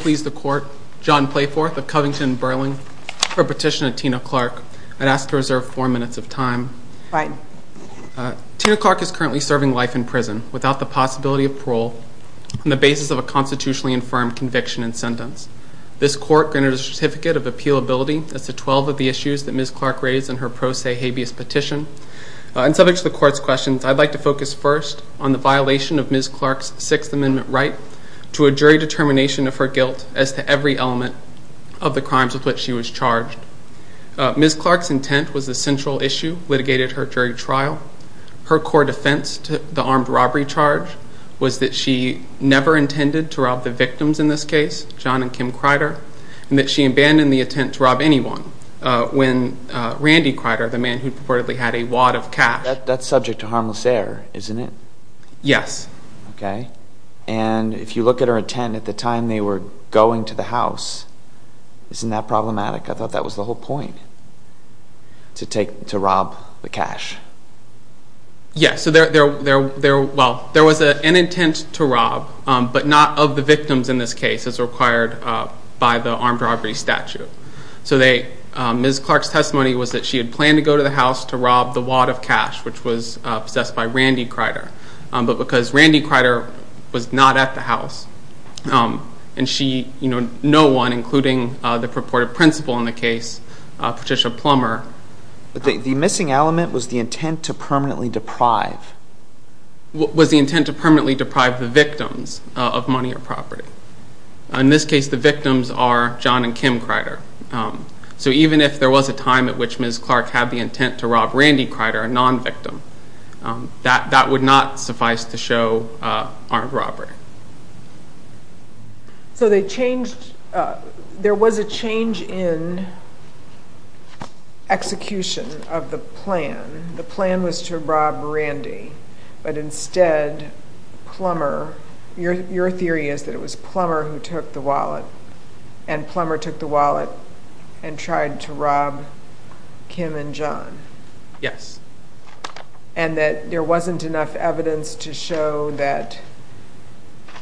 v. John Playforth of Covington-Burling, for a petition to Tina Clarke. I'd ask to reserve four minutes of time. Tina Clarke is currently serving life in prison without the possibility of parole on the basis of a constitutionally infirmed conviction and sentence. This court granted a certificate of appealability as to 12 of the issues that Ms. Clarke raised in her pro se habeas petition. In subject to the court's questions, I'd like to focus first on the violation of Ms. Clarke's Sixth Amendment right to a jury determination of her guilt as to every element of the crimes with which she was charged. Ms. Clarke's intent was the central issue litigated at her jury trial. Her core defense to the armed robbery charge was that she never intended to rob the victims in this case, John and Kim Crider, and that she abandoned the intent to rob anyone when Randy Crider, the man who purportedly had a wad of cash... That's subject to harmless error, isn't it? Yes. Okay. And if you look at her intent at the time they were going to the house, isn't that problematic? I thought that was the whole point, to rob the cash. Yes. There was an intent to rob, but not of the victims in this case as required by the armed robbery statute. Ms. Clarke's testimony was that she had planned to go to the house to rob the wad of cash, which was possessed by Randy Crider, but because Randy Crider was not at the house and no one, including the purported principal in the case, Patricia Plummer... The missing element was the intent to permanently deprive. Was the intent to permanently deprive the victims of money or property. In this case, the victims are John and Kim Crider. So even if there was a time at which Ms. Clarke had the intent to rob Randy Crider, a non-victim, that would not There was a change in execution of the plan. The plan was to rob Randy, but instead Plummer... Your theory is that it was Plummer who took the wallet, and Plummer took the wallet and tried to rob Kim and John. Yes. And that there wasn't enough evidence to show that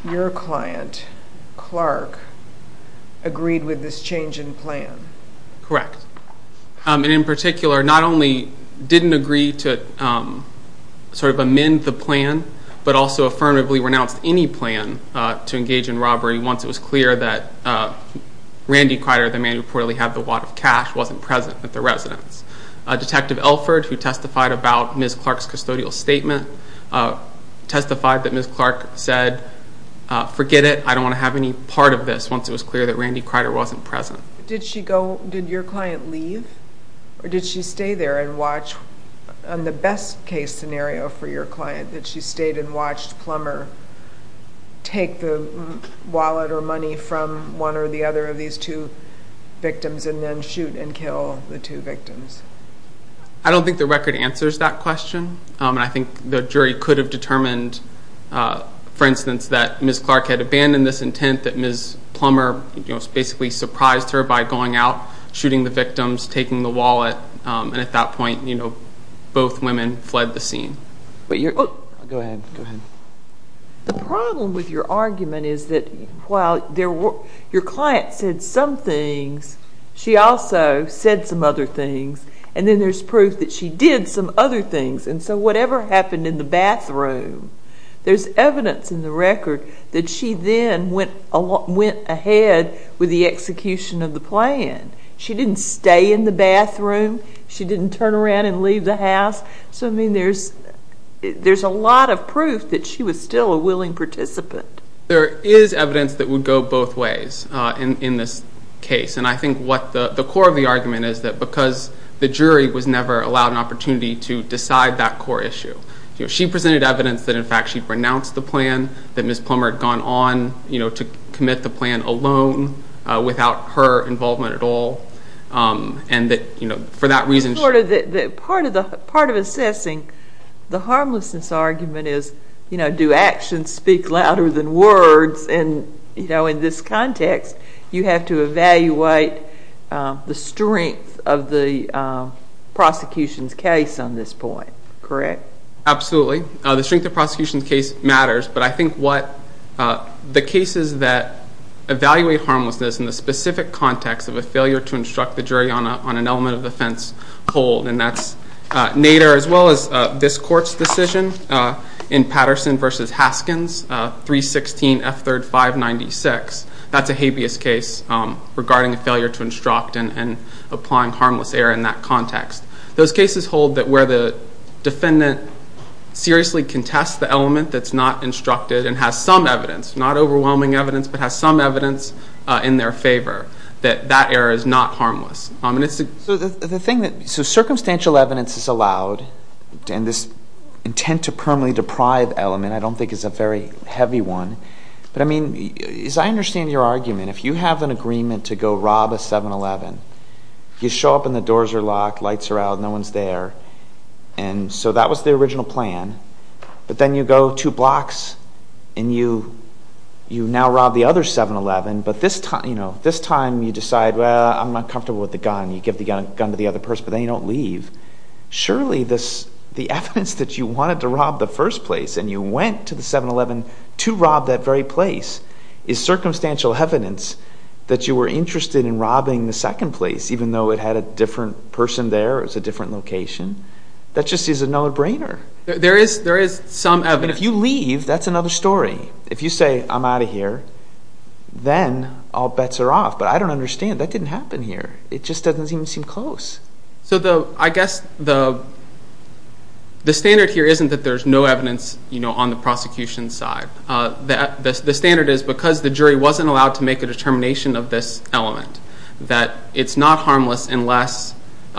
your client Clarke agreed with this change in plan. Correct. And in particular, not only didn't agree to amend the plan, but also affirmatively renounced any plan to engage in robbery once it was clear that Randy Crider, the man who reportedly had the wad of cash, wasn't present at the residence. Detective Elford, who testified about Ms. Clarke's custodial statement, testified that Ms. Clarke said, forget it, I don't want to have any part of this once it was clear that Randy Crider wasn't present. Did she go, did your client leave? Or did she stay there and watch, on the best case scenario for your client, that she stayed and watched Plummer take the wallet or money from one or the other of these two victims and then shoot and kill the two victims? I don't think the record answers that question. I think the jury could have determined, for instance, that Ms. Clarke had abandoned this intent, that Ms. Plummer basically surprised her by going out, shooting the victims, taking the wallet, and at that point, both women fled the scene. The problem with your argument is that while your client said some things, she also said some other things, and then there's proof that she did some other things, and so whatever happened in the bathroom, there's evidence in the record that she then went ahead with the execution of the plan. She didn't stay in the bathroom. She didn't turn around and leave the house. So, I mean, there's a lot of proof that she was still a willing participant. There is evidence that would go both ways in this case, and I think what the core of the argument is that because the jury was never allowed an opportunity to decide that core issue, she presented evidence that, in fact, she'd renounced the plan, that Ms. Plummer had gone on to commit the plan alone, without her involvement at all, and that for that reason... Part of assessing the harmlessness argument is, you know, do actions speak louder than words? And, you know, in this context, you have to evaluate the strength of the prosecution's case on this point, correct? Absolutely. The strength of the prosecution's case matters, but I think what the cases that evaluate harmlessness in the specific context of a failure to instruct the jury on an element of offense hold, and that's Nader, as well as this court's decision in Patterson v. Haskins, 316 F3rd 596. That's a habeas case regarding a failure to instruct and applying harmless error in that context. Those cases hold that where the defendant seriously contests the element that's not instructed and has some evidence, not overwhelming evidence, but has some evidence in their favor, that that error is not harmless. So circumstantial evidence is allowed, and this intent to permanently deprive element I don't think is a very heavy one, but, I mean, as I understand your argument, if you have an agreement to go rob a 7-Eleven, you show up and the doors are locked, lights are out, no one's there, and so that was the original plan, but then you go two blocks and you now rob the other 7-Eleven, but this time you decide, well, I'm not comfortable with the gun, you give the gun to the other person, but then you don't leave. Surely the evidence that you wanted to rob the first place and you went to the 7-Eleven to rob that very place is circumstantial evidence that you were interested in robbing the second place, even though it had a different person there, it was a different location. That just is a no-brainer. There is some evidence. But if you leave, that's another story. If you say, I'm out of here, then all bets are off. But I don't understand, that didn't happen here. It just doesn't even seem close. So I guess the standard here isn't that there's no evidence on the prosecution's side. The standard is because the jury wasn't allowed to make a determination of this element, that it's not harmless unless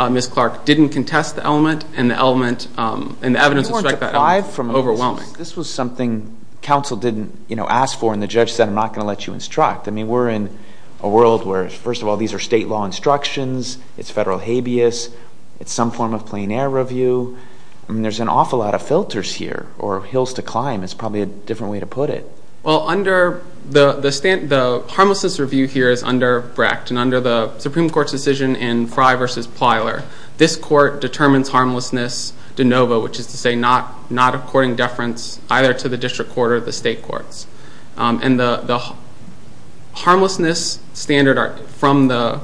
Ms. Clark didn't contest the element, and the evidence would strike that overwhelming. This was something counsel didn't ask for, and the judge said, I'm not going to let you instruct. We're in a world where, first of all, these are state law instructions. It's federal habeas. It's some form of plein air review. There's an awful lot of filters here, or hills to climb is probably a different way to put it. Well, under the harmlessness review here is under Brecht, and under the Supreme Court's decision in Frey v. Plyler, this court determines harmlessness de novo, which is to say not according to deference either to the district court or the state courts. And the harmlessness standard from the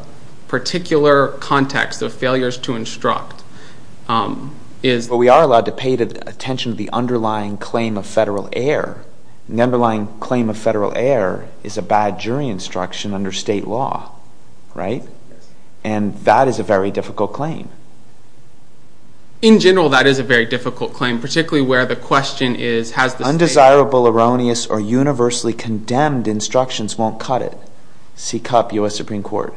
particular context of failures to instruct is Well, we are allowed to pay attention to the underlying claim of federal error. The underlying claim of federal error is a bad jury instruction under state law, right? And that is a very difficult claim. In general, that is a very difficult claim, particularly where the question is has the state Undesirable, erroneous, or universally condemned instructions won't cut it. Seek up U.S. Supreme Court.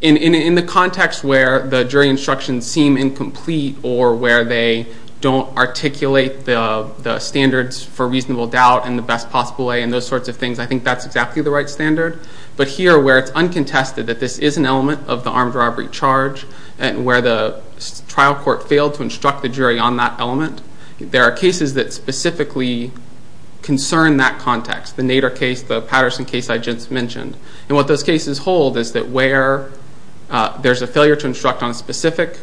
In the context where the jury instructions seem incomplete or where they don't articulate the standards for reasonable doubt and the best possible way and those sorts of things, I think that's exactly the right standard. But here where it's uncontested that this is an element of the armed robbery charge and where the trial court failed to instruct the jury on that element, there are cases that specifically concern that context, the Nader case, the Patterson case I just mentioned. And what those cases hold is that where there's a failure to instruct on a specific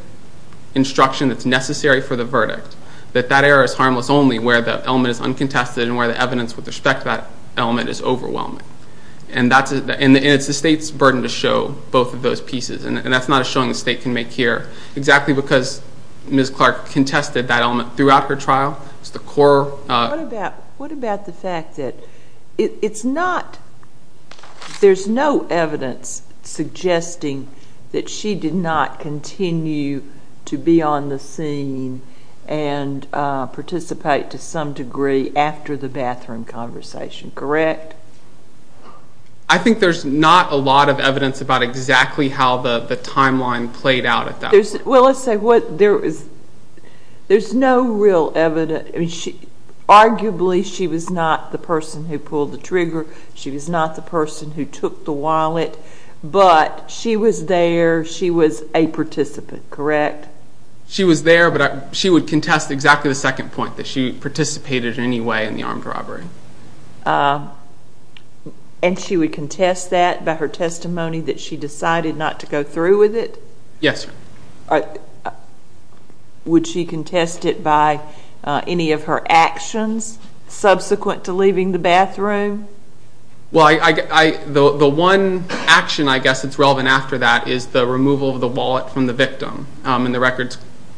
instruction that's necessary for the verdict, that that error is harmless only where the element is uncontested and where the evidence with respect to that element is overwhelming. And it's the state's burden to show both of those pieces. And that's not a showing the state can make here exactly because Ms. Clark contested that element throughout her trial. What about the fact that it's not, there's no evidence suggesting that she did not continue to be on the scene and participate to some degree after the bathroom conversation, correct? I think there's not a lot of evidence about exactly how the timeline played out at that point. Well, let's say there's no real evidence. Arguably, she was not the person who pulled the trigger. She was not the person who took the wallet. But she was there. She was a participant, correct? She was there, but she would contest exactly the second point, that she participated in any way in the armed robbery. And she would contest that by her testimony that she decided not to go through with it? Yes, ma'am. Would she contest it by any of her actions subsequent to leaving the bathroom? Well, the one action I guess that's relevant after that is the removal of the wallet from the victim. And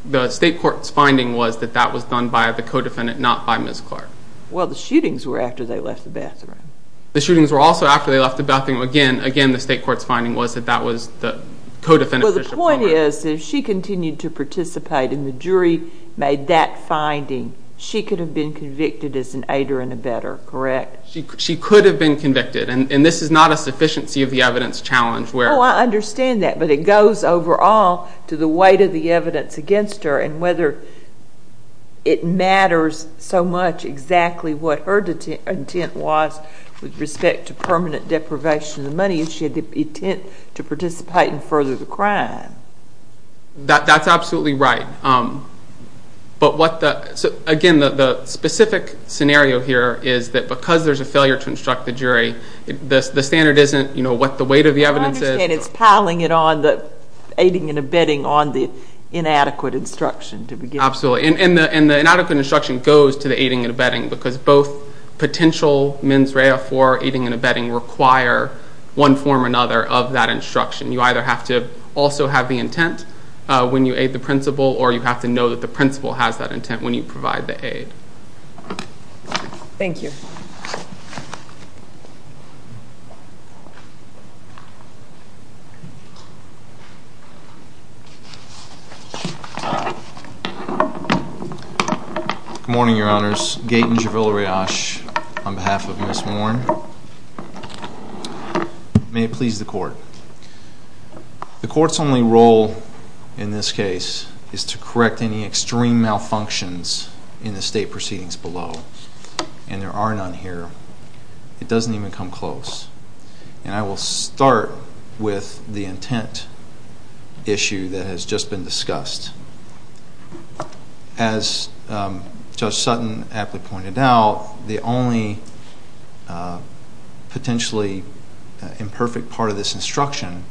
the state court's finding was that that was done by the co-defendant, not by Ms. Clark. Well, the shootings were after they left the bathroom. The shootings were also after they left the bathroom. Again, the state court's finding was that that was the co-defendant, Bishop Palmer. Well, the point is, if she continued to participate and the jury made that finding, she could have been convicted as an aider and abetter, correct? She could have been convicted. And this is not a sufficiency of the evidence challenge. Oh, I understand that. But it goes overall to the weight of the evidence against her and whether it matters so much exactly what her intent was with respect to permanent deprivation of the money if she had the intent to participate and further the crime. That's absolutely right. Again, the specific scenario here is that because there's a failure to instruct the jury, the standard isn't what the weight of the evidence is. And it's piling it on the aiding and abetting on the inadequate instruction to begin with. Absolutely. And the inadequate instruction goes to the aiding and abetting because both potential mens rea for aiding and abetting require one form or another of that instruction. You either have to also have the intent when you aid the principal or you have to know that the principal has that intent when you provide the aid. Thank you. Good morning, Your Honors. Gaten Javila-Rayash on behalf of Ms. Warren. May it please the Court. The Court's only role in this case is to correct any extreme malfunctions in the state proceedings below. And there are none here. And I will start with the state proceedings. I will start with the intent issue that has just been discussed. As Judge Sutton aptly pointed out, the only potentially imperfect part of this instruction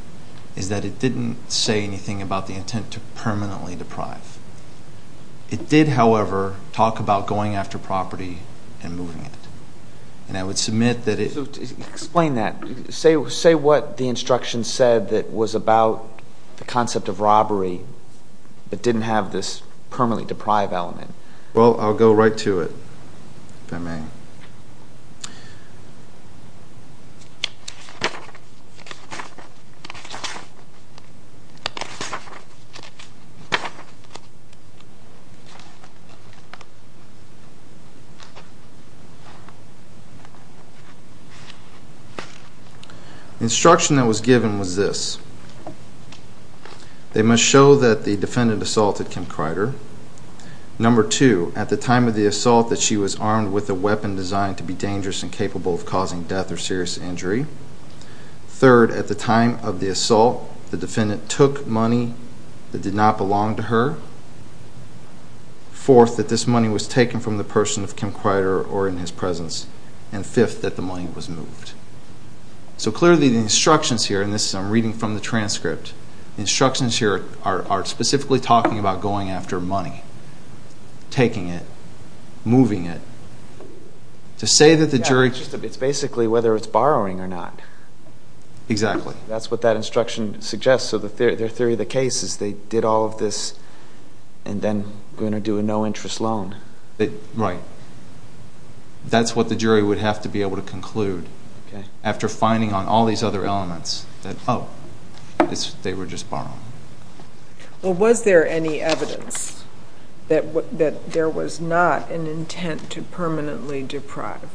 is that it didn't say anything about the intent to permanently deprive. It did, however, talk about going after property and moving it. And I would submit that it... Explain that. Say what the instruction said that was about the concept of robbery but didn't have this permanently deprive element. Well, I'll go right to it, if I may. The instruction that was given was this. They must show that the defendant assaulted Kim Crider. Number two, at the time of the assault, that she was armed with a weapon designed to be dangerous and capable of causing death or serious injury. Third, at the time of the assault, the defendant took money that did not belong to her. Fourth, that this money was taken from the person of Kim Crider or in his presence. And fifth, that the money was moved. So clearly the instructions here, and this I'm reading from the transcript, the instructions here are specifically talking about going after money, taking it, moving it. To say that the jury... It's basically whether it's borrowing or not. Exactly. That's what that instruction suggests. So their theory of the case is they did all of this and then are going to do a no-interest loan. Right. That's what the jury would have to be able to conclude after finding on all these other elements that, oh, they were just borrowing. Well, was there any evidence that there was not an intent to permanently deprive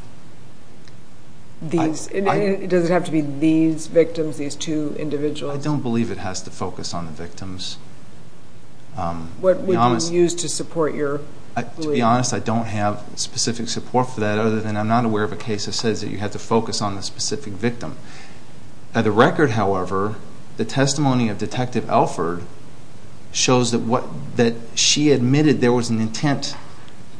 these? Does it have to be these victims, these two individuals? I don't believe it has to focus on the victims. What would you use to support your belief? To be honest, I don't have specific support for that other than I'm not aware of a case that says that you have to focus on the specific victim. By the record, however, the testimony of Detective Alford shows that she admitted there was an intent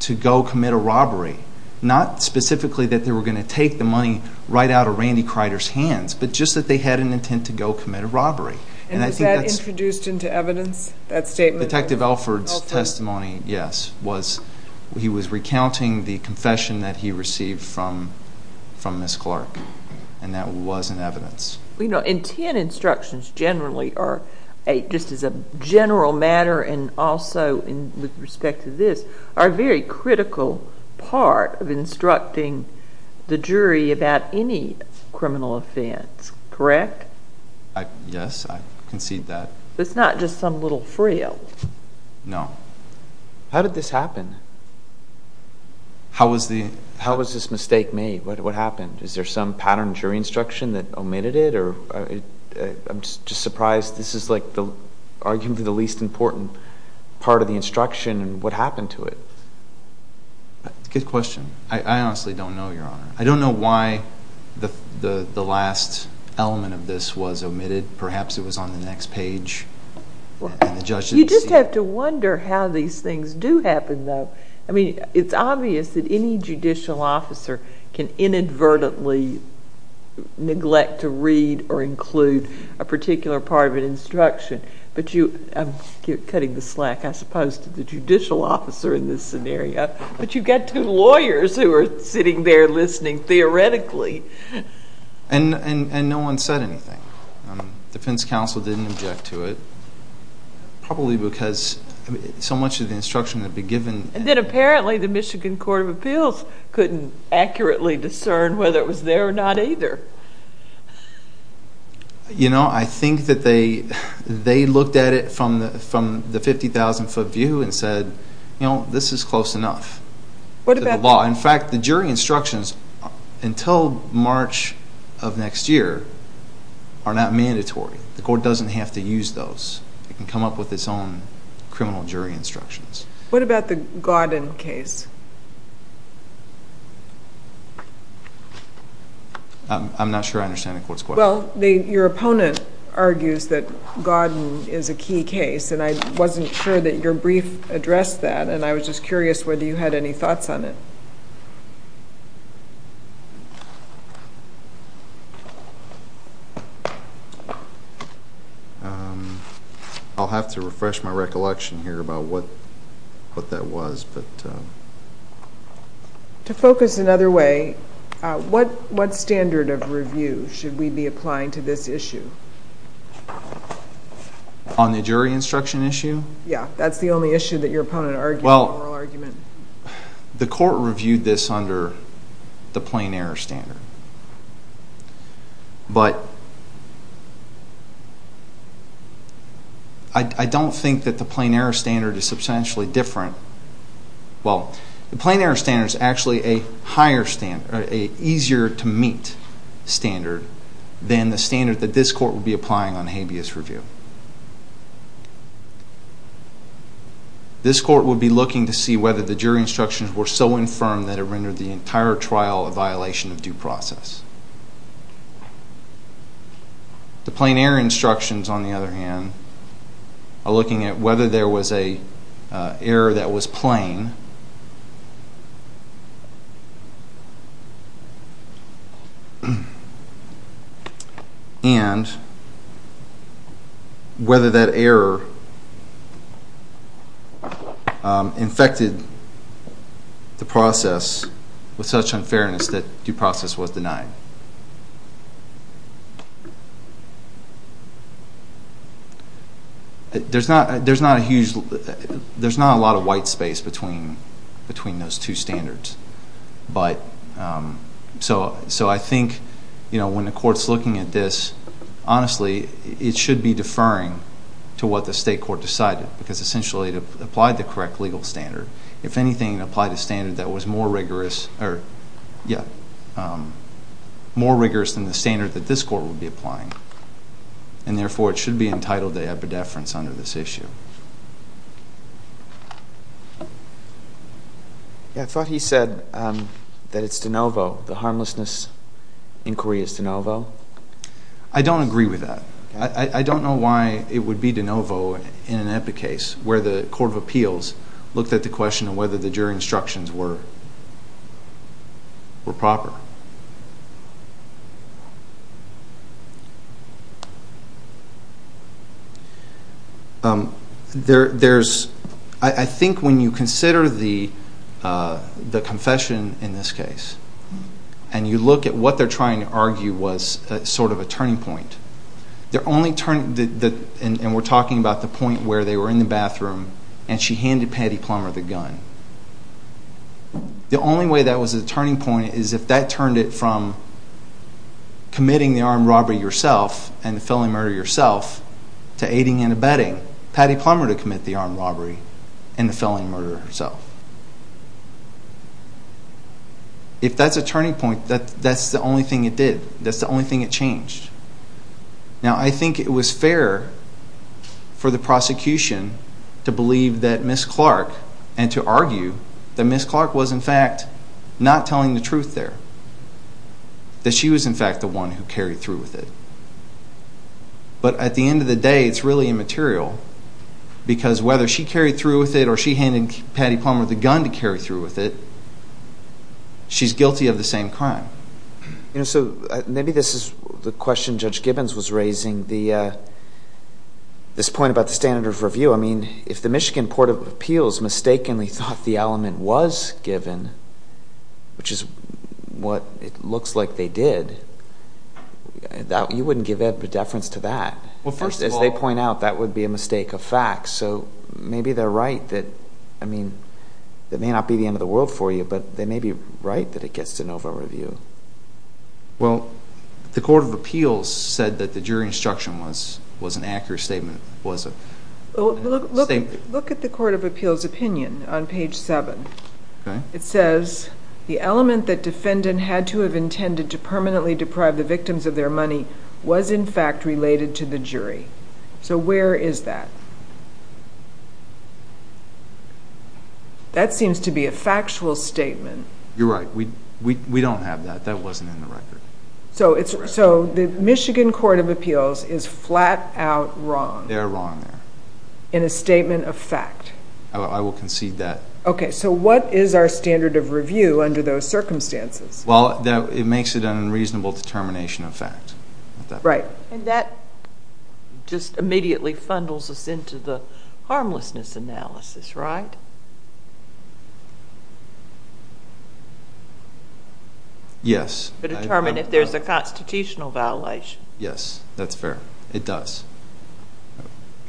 to go commit a robbery, not specifically that they were going to take the money right out of Randy Crider's hands, but just that they had an intent to go commit a robbery. And was that introduced into evidence, that statement? Detective Alford's testimony, yes. He was recounting the confession that he received from Ms. Clark, and that was in evidence. You know, intent instructions generally are, just as a general matter and also with respect to this, are a very critical part of instructing the jury about any criminal offense, correct? Yes, I concede that. It's not just some little frill? No. How did this happen? How was this mistake made? What happened? Is there some pattern of jury instruction that omitted it? I'm just surprised. This is arguably the least important part of the instruction, and what happened to it? Good question. I honestly don't know, Your Honor. I don't know why the last element of this was omitted. Perhaps it was on the next page, and the judge didn't see it. You just have to wonder how these things do happen, though. I mean, it's obvious that any judicial officer can inadvertently neglect to read or include a particular part of an instruction. I'm cutting the slack, I suppose, to the judicial officer in this scenario, but you've got two lawyers who are sitting there listening theoretically. And no one said anything. The defense counsel didn't object to it, probably because so much of the instruction had been given. And then apparently the Michigan Court of Appeals couldn't accurately discern whether it was there or not either. You know, I think that they looked at it from the 50,000-foot view and said, you know, this is close enough to the law. In fact, the jury instructions until March of next year are not mandatory. The court doesn't have to use those. It can come up with its own criminal jury instructions. What about the Godden case? I'm not sure I understand the court's question. Well, your opponent argues that Godden is a key case, and I wasn't sure that your brief addressed that, and I was just curious whether you had any thoughts on it. I'll have to refresh my recollection here about what that was. To focus another way, what standard of review should we be applying to this issue? On the jury instruction issue? Yeah, that's the only issue that your opponent argued in the oral argument. Well, the court reviewed this under the plain error standard. But I don't think that the plain error standard is substantially different. Well, the plain error standard is actually a higher standard, or an easier-to-meet standard than the standard that this court would be applying on habeas review. This court would be looking to see whether the jury instructions were so infirm that it rendered the entire trial a violation of due process. The plain error instructions, on the other hand, are looking at whether there was an error that was plain and whether that error infected the process with such unfairness that due process was denied. There's not a lot of white space between those two standards. So I think when the court's looking at this, honestly, it should be deferring to what the state court decided, because essentially it applied the correct legal standard. If anything, it applied a standard that was more rigorous than the standard that this court would be applying. And therefore, it should be entitled to epideference under this issue. I thought he said that it's de novo. The harmlessness inquiry is de novo. I don't agree with that. I don't know why it would be de novo in an epic case where the court of appeals looked at the question of whether the jury instructions were proper. I think when you consider the confession in this case and you look at what they're trying to argue was sort of a turning point, and we're talking about the point where they were in the bathroom and she handed Patty Plummer the gun. The only way that was a turning point is if that turned it from committing the armed robbery yourself and the felony murder yourself to aiding and abetting Patty Plummer to commit the armed robbery and the felony murder herself. If that's a turning point, that's the only thing it did. Now, I think it was fair for the prosecution to believe that Ms. Clark and to argue that Ms. Clark was, in fact, not telling the truth there, that she was, in fact, the one who carried through with it. But at the end of the day, it's really immaterial because whether she carried through with it or she handed Patty Plummer the gun to carry through with it, she's guilty of the same crime. So maybe this is the question Judge Gibbons was raising, this point about the standard of review. I mean, if the Michigan Court of Appeals mistakenly thought the element was given, which is what it looks like they did, you wouldn't give evidence of deference to that. First, as they point out, that would be a mistake of fact. So maybe they're right that, I mean, it may not be the end of the world for you, but they may be right that it gets de novo review. Well, the Court of Appeals said that the jury instruction was an accurate statement. Look at the Court of Appeals opinion on page 7. It says, The element that defendant had to have intended to permanently deprive the victims of their money was, in fact, related to the jury. So where is that? That seems to be a factual statement. You're right. We don't have that. That wasn't in the record. So the Michigan Court of Appeals is flat out wrong. They're wrong there. In a statement of fact. I will concede that. Okay. So what is our standard of review under those circumstances? Well, it makes it an unreasonable determination of fact. Right. And that just immediately funnels us into the harmlessness analysis, right? Yes. To determine if there's a constitutional violation. Yes. That's fair. It does.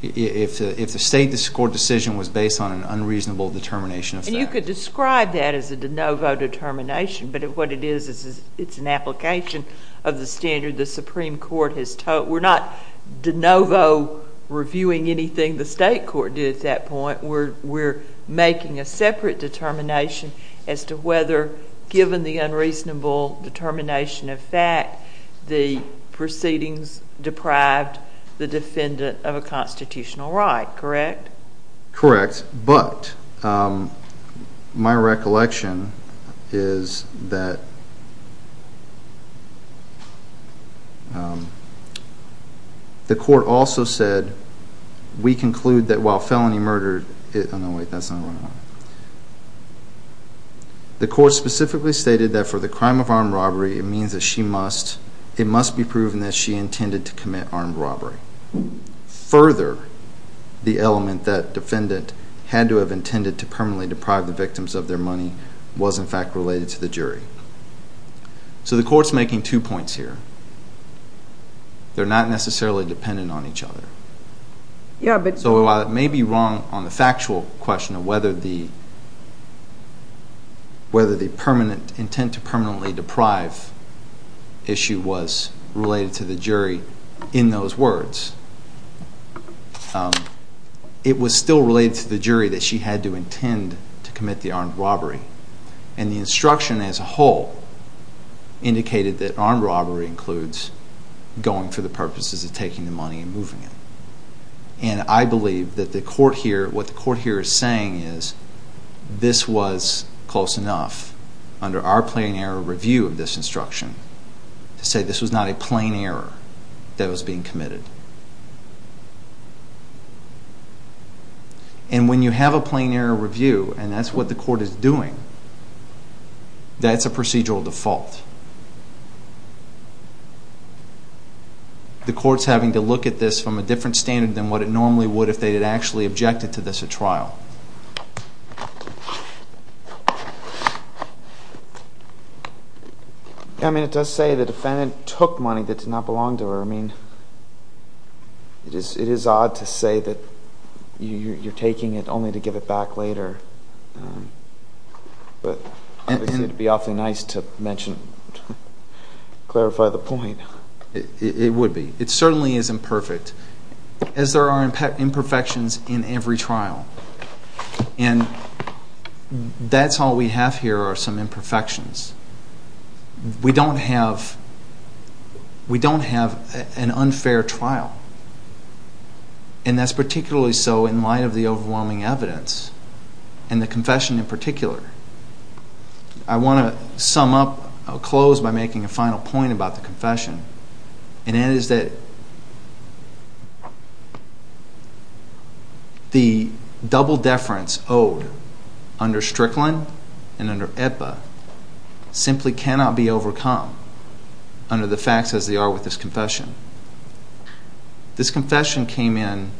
If the state court decision was based on an unreasonable determination of fact. And you could describe that as a de novo determination, but what it is is it's an application of the standard the Supreme Court has taught. We're not de novo reviewing anything the state court did at that point. We're making a separate determination as to whether, given the unreasonable determination of fact, the proceedings deprived the defendant of a constitutional right. Correct? Correct. But my recollection is that the court also said, we conclude that while felony murder, oh, no, wait, that's not what I want. The court specifically stated that for the crime of armed robbery it means that she must, it must be proven that she intended to commit armed robbery. Further, the element that defendant had to have intended to permanently deprive the victims of their money was in fact related to the jury. So the court's making two points here. They're not necessarily dependent on each other. So while it may be wrong on the factual question of whether the permanent, intent to permanently deprive issue was related to the jury in those words, it was still related to the jury that she had to intend to commit the armed robbery. And the instruction as a whole indicated that armed robbery includes going for the purposes of taking the money and moving it. And I believe that the court here, what the court here is saying is, this was close enough under our plain error review of this instruction to say this was not a plain error that was being committed. And when you have a plain error review and that's what the court is doing, that's a procedural default. The court's having to look at this from a different standard than what it normally would if they had actually objected to this at trial. I mean, it does say the defendant took money that did not belong to her. I mean, it is odd to say that you're taking it only to give it back later. But it would be awfully nice to mention, clarify the point. It would be. It certainly isn't perfect, as there are imperfections in every trial. And that's all we have here are some imperfections. We don't have an unfair trial. And that's particularly so in light of the overwhelming evidence and the confession in particular. I want to sum up, close by making a final point about the confession. And that is that the double deference owed under Strickland and under Ipa simply cannot be overcome under the facts as they are with this confession. This confession came in,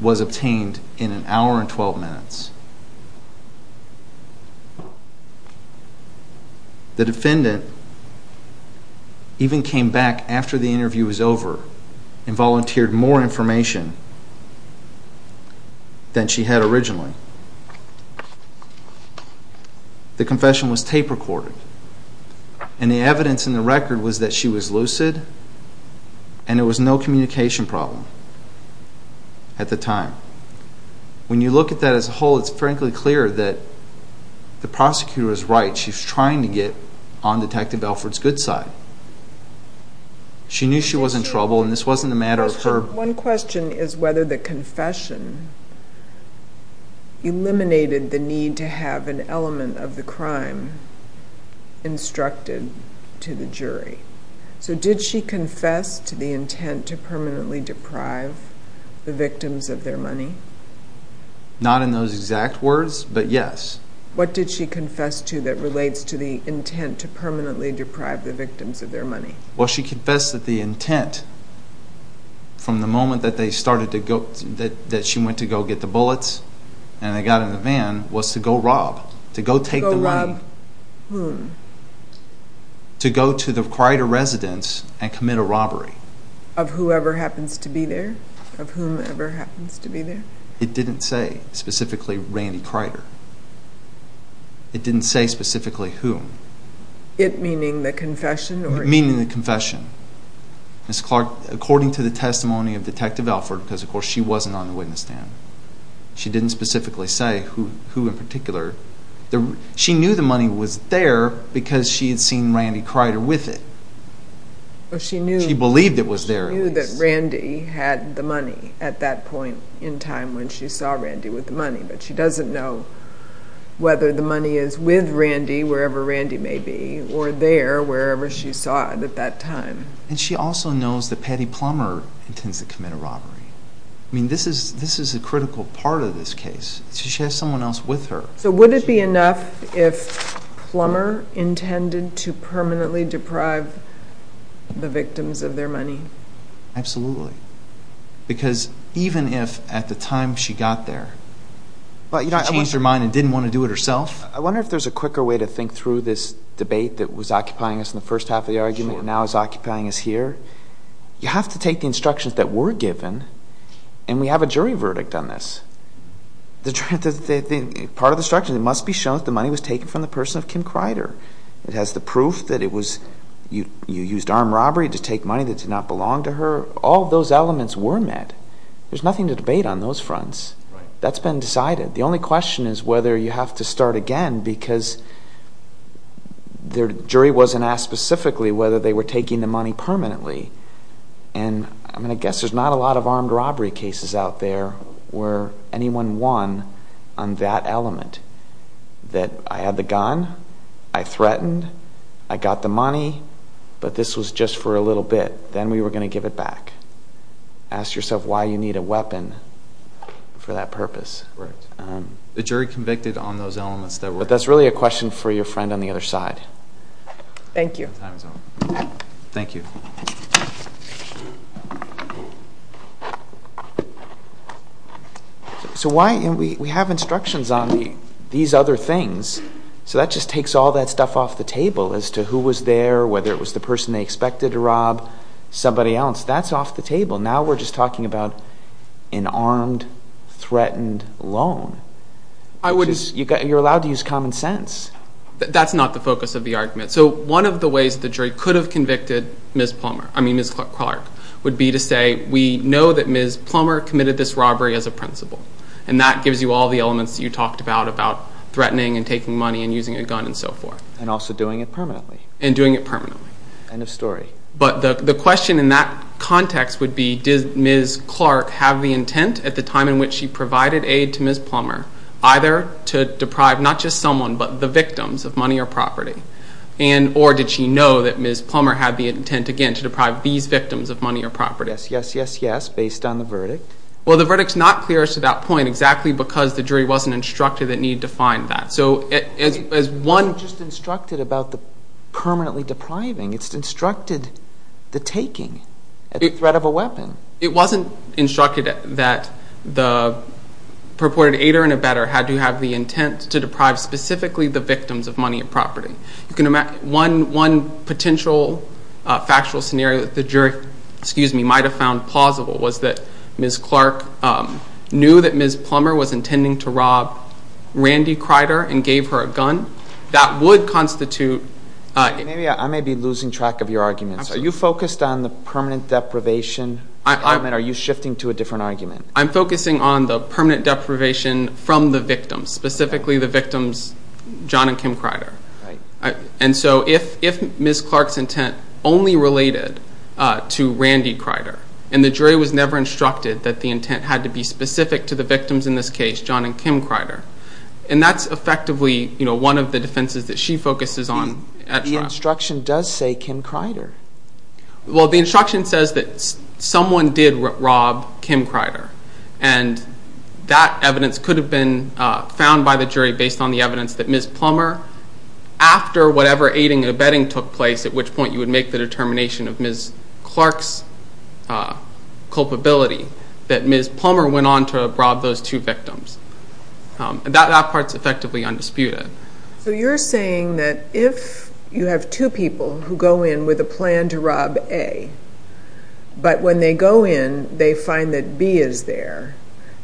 was obtained in an hour and 12 minutes. The defendant even came back after the interview was over and volunteered more information than she had originally. The confession was tape recorded. And the evidence in the record was that she was lucid and there was no communication problem at the time. When you look at that as a whole, it's frankly clear that the prosecutor is right. She's trying to get on Detective Belford's good side. She knew she was in trouble, and this wasn't a matter of her... One question is whether the confession eliminated the need to have an element of the crime instructed to the jury. So did she confess to the intent to permanently deprive the victims of their money? Not in those exact words, but yes. What did she confess to that relates to the intent to permanently deprive the victims of their money? Well, she confessed that the intent from the moment that she went to go get the bullets and they got in the van was to go rob, to go take the money. To go rob whom? To go to the Crider residence and commit a robbery. Of whoever happens to be there? Of whomever happens to be there? It didn't say specifically Randy Crider. It didn't say specifically whom. It meaning the confession? Meaning the confession. Ms. Clark, according to the testimony of Detective Belford, because of course she wasn't on the witness stand, she didn't specifically say who in particular. She knew the money was there because she had seen Randy Crider with it. She believed it was there at least. Randy had the money at that point in time when she saw Randy with the money, but she doesn't know whether the money is with Randy, wherever Randy may be, or there, wherever she saw it at that time. And she also knows that Patty Plummer intends to commit a robbery. I mean, this is a critical part of this case. She has someone else with her. So would it be enough if Plummer intended to permanently deprive the victims of their money? Absolutely. Because even if at the time she got there she changed her mind and didn't want to do it herself. I wonder if there's a quicker way to think through this debate that was occupying us in the first half of the argument and now is occupying us here. You have to take the instructions that were given, and we have a jury verdict on this. Part of the instructions, it must be shown that the money was taken from the person of Kim Crider. It has the proof that you used armed robbery to take money that did not belong to her. All of those elements were met. There's nothing to debate on those fronts. That's been decided. The only question is whether you have to start again because the jury wasn't asked specifically whether they were taking the money permanently. And, I mean, I guess there's not a lot of armed robbery cases out there where anyone won on that element, that I had the gun, I threatened, I got the money, but this was just for a little bit. Then we were going to give it back. Ask yourself why you need a weapon for that purpose. The jury convicted on those elements. But that's really a question for your friend on the other side. Thank you. Thank you. Thank you. So why? We have instructions on these other things. So that just takes all that stuff off the table as to who was there, whether it was the person they expected to rob, somebody else. That's off the table. Now we're just talking about an armed, threatened loan. You're allowed to use common sense. That's not the focus of the argument. So one of the ways the jury could have convicted Ms. Plummer, I mean Ms. Clark, would be to say, we know that Ms. Plummer committed this robbery as a principle. And that gives you all the elements that you talked about, about threatening and taking money and using a gun and so forth. And also doing it permanently. And doing it permanently. End of story. But the question in that context would be, did Ms. Clark have the intent at the time in which she provided aid to Ms. Plummer either to deprive not just someone but the victims of money or property? Or did she know that Ms. Plummer had the intent, again, to deprive these victims of money or property? Yes, yes, yes, yes. Based on the verdict. Well, the verdict's not clear as to that point exactly because the jury wasn't instructed it needed to find that. So as one. It wasn't just instructed about the permanently depriving. It's instructed the taking at the threat of a weapon. It wasn't instructed that the purported aider and abetter had to have the intent to deprive specifically the victims of money and property. One potential factual scenario that the jury might have found plausible was that Ms. Clark knew that Ms. Plummer was intending to rob Randy Crider and gave her a gun. That would constitute. I may be losing track of your arguments. Are you focused on the permanent deprivation argument? Are you shifting to a different argument? I'm focusing on the permanent deprivation from the victims, specifically the victims John and Kim Crider. And so if Ms. Clark's intent only related to Randy Crider and the jury was never instructed that the intent had to be specific to the victims in this case, John and Kim Crider, and that's effectively one of the defenses that she focuses on at trial. But the instruction does say Kim Crider. Well, the instruction says that someone did rob Kim Crider, and that evidence could have been found by the jury based on the evidence that Ms. Plummer, after whatever aiding and abetting took place, at which point you would make the determination of Ms. Clark's culpability, that Ms. Plummer went on to rob those two victims. That part's effectively undisputed. So you're saying that if you have two people who go in with a plan to rob A, but when they go in they find that B is there,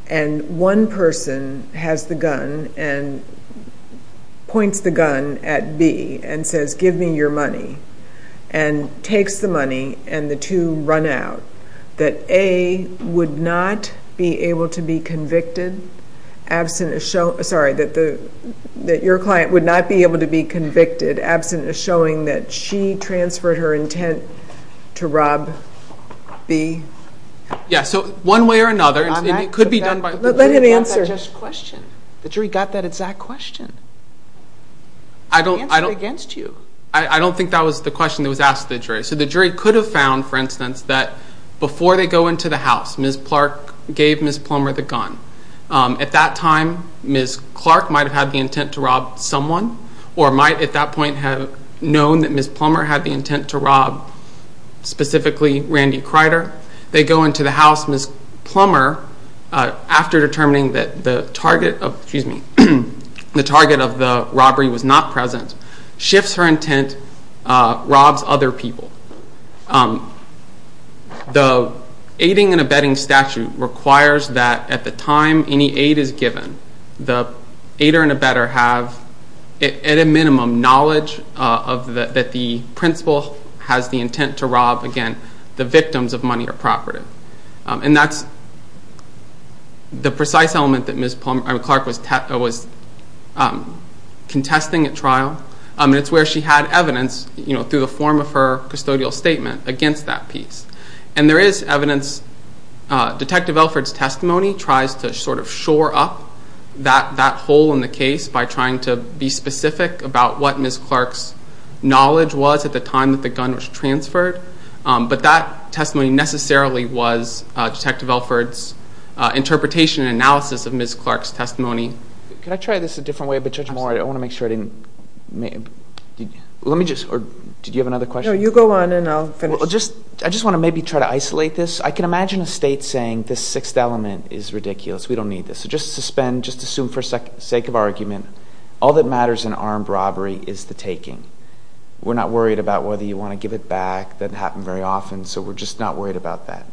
and one person has the gun and points the gun at B and says, give me your money, and takes the money, and the two run out, that A would not be able to be convicted, that your client would not be able to be convicted absent of showing that she transferred her intent to rob B? Yeah, so one way or another, and it could be done by the jury. Let him answer. The jury got that just question. The jury got that exact question. I answered it against you. I don't think that was the question that was asked to the jury. So the jury could have found, for instance, that before they go into the house, Ms. Clark gave Ms. Plummer the gun. At that time, Ms. Clark might have had the intent to rob someone or might at that point have known that Ms. Plummer had the intent to rob specifically Randy Kreider. They go into the house. Ms. Plummer, after determining that the target of the robbery was not present, shifts her intent, robs other people. The aiding and abetting statute requires that at the time any aid is given, the aider and abetter have at a minimum knowledge that the principal has the intent to rob, again, the victims of money or property. That's the precise element that Ms. Clark was contesting at trial. It's where she had evidence, through the form of her custodial statement, against that piece. There is evidence. Detective Elford's testimony tries to shore up that hole in the case by trying to be specific about what Ms. Clark's knowledge was at the time that the gun was transferred. But that testimony necessarily was Detective Elford's interpretation and analysis of Ms. Clark's testimony. Could I try this a different way? I want to make sure I didn't – let me just – or did you have another question? No, you go on and I'll finish. I just want to maybe try to isolate this. I can imagine a state saying this sixth element is ridiculous. We don't need this. So just suspend, just assume for the sake of argument, all that matters in armed robbery is the taking. We're not worried about whether you want to give it back. That doesn't happen very often, so we're just not worried about that.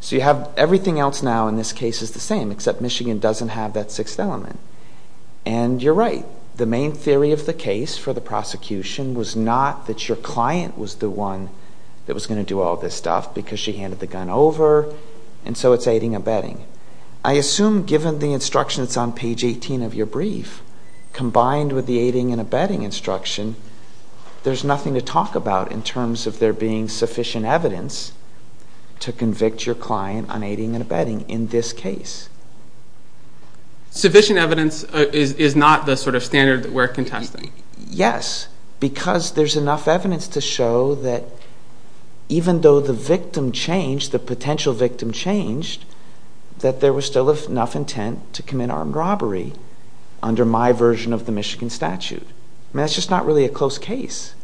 So you have everything else now in this case is the same, except Michigan doesn't have that sixth element. And you're right. The main theory of the case for the prosecution was not that your client was the one that was going to do all this stuff because she handed the gun over, and so it's aiding and abetting. I assume given the instructions on page 18 of your brief, combined with the aiding and abetting instruction, there's nothing to talk about in terms of there being sufficient evidence to convict your client on aiding and abetting in this case. Sufficient evidence is not the sort of standard that we're contesting. Yes, because there's enough evidence to show that even though the victim changed, the potential victim changed, that there was still enough intent to commit armed robbery under my version of the Michigan statute. I mean, that's just not really a close case.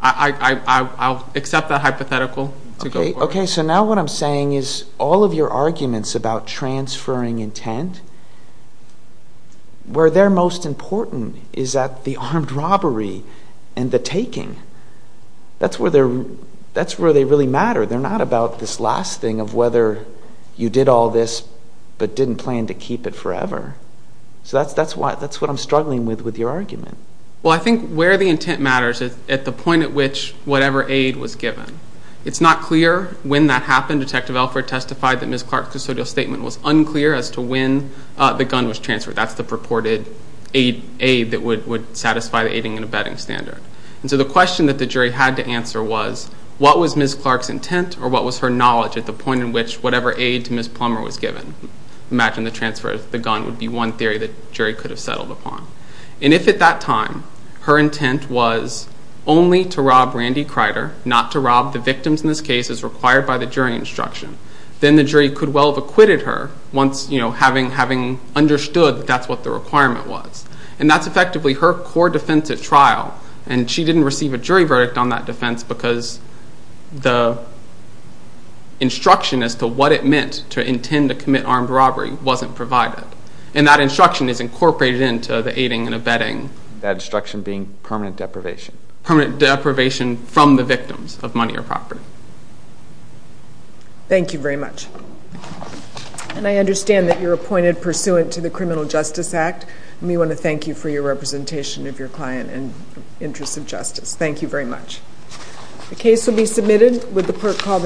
I'll accept that hypothetical to go forward. Okay, so now what I'm saying is all of your arguments about transferring intent, where they're most important is at the armed robbery and the taking. That's where they really matter. They're not about this last thing of whether you did all this but didn't plan to keep it forever. So that's what I'm struggling with with your argument. Well, I think where the intent matters is at the point at which whatever aid was given. It's not clear when that happened. Detective Elford testified that Ms. Clark's custodial statement was unclear as to when the gun was transferred. That's the purported aid that would satisfy the aiding and abetting standard. And so the question that the jury had to answer was what was Ms. Clark's intent or what was her knowledge at the point in which whatever aid to Ms. Plummer was given? Imagine the transfer of the gun would be one theory that the jury could have settled upon. And if at that time her intent was only to rob Randy Crider, not to rob the victims in this case as required by the jury instruction, then the jury could well have acquitted her once having understood that that's what the requirement was. And that's effectively her core defense at trial, and she didn't receive a jury verdict on that defense because the instruction as to what it meant to intend to commit armed robbery wasn't provided. And that instruction is incorporated into the aiding and abetting. That instruction being permanent deprivation. Permanent deprivation from the victims of money or property. Thank you very much. And I understand that you're appointed pursuant to the Criminal Justice Act, and we want to thank you for your representation of your client and interests of justice. Thank you very much. The case will be submitted with the pert call.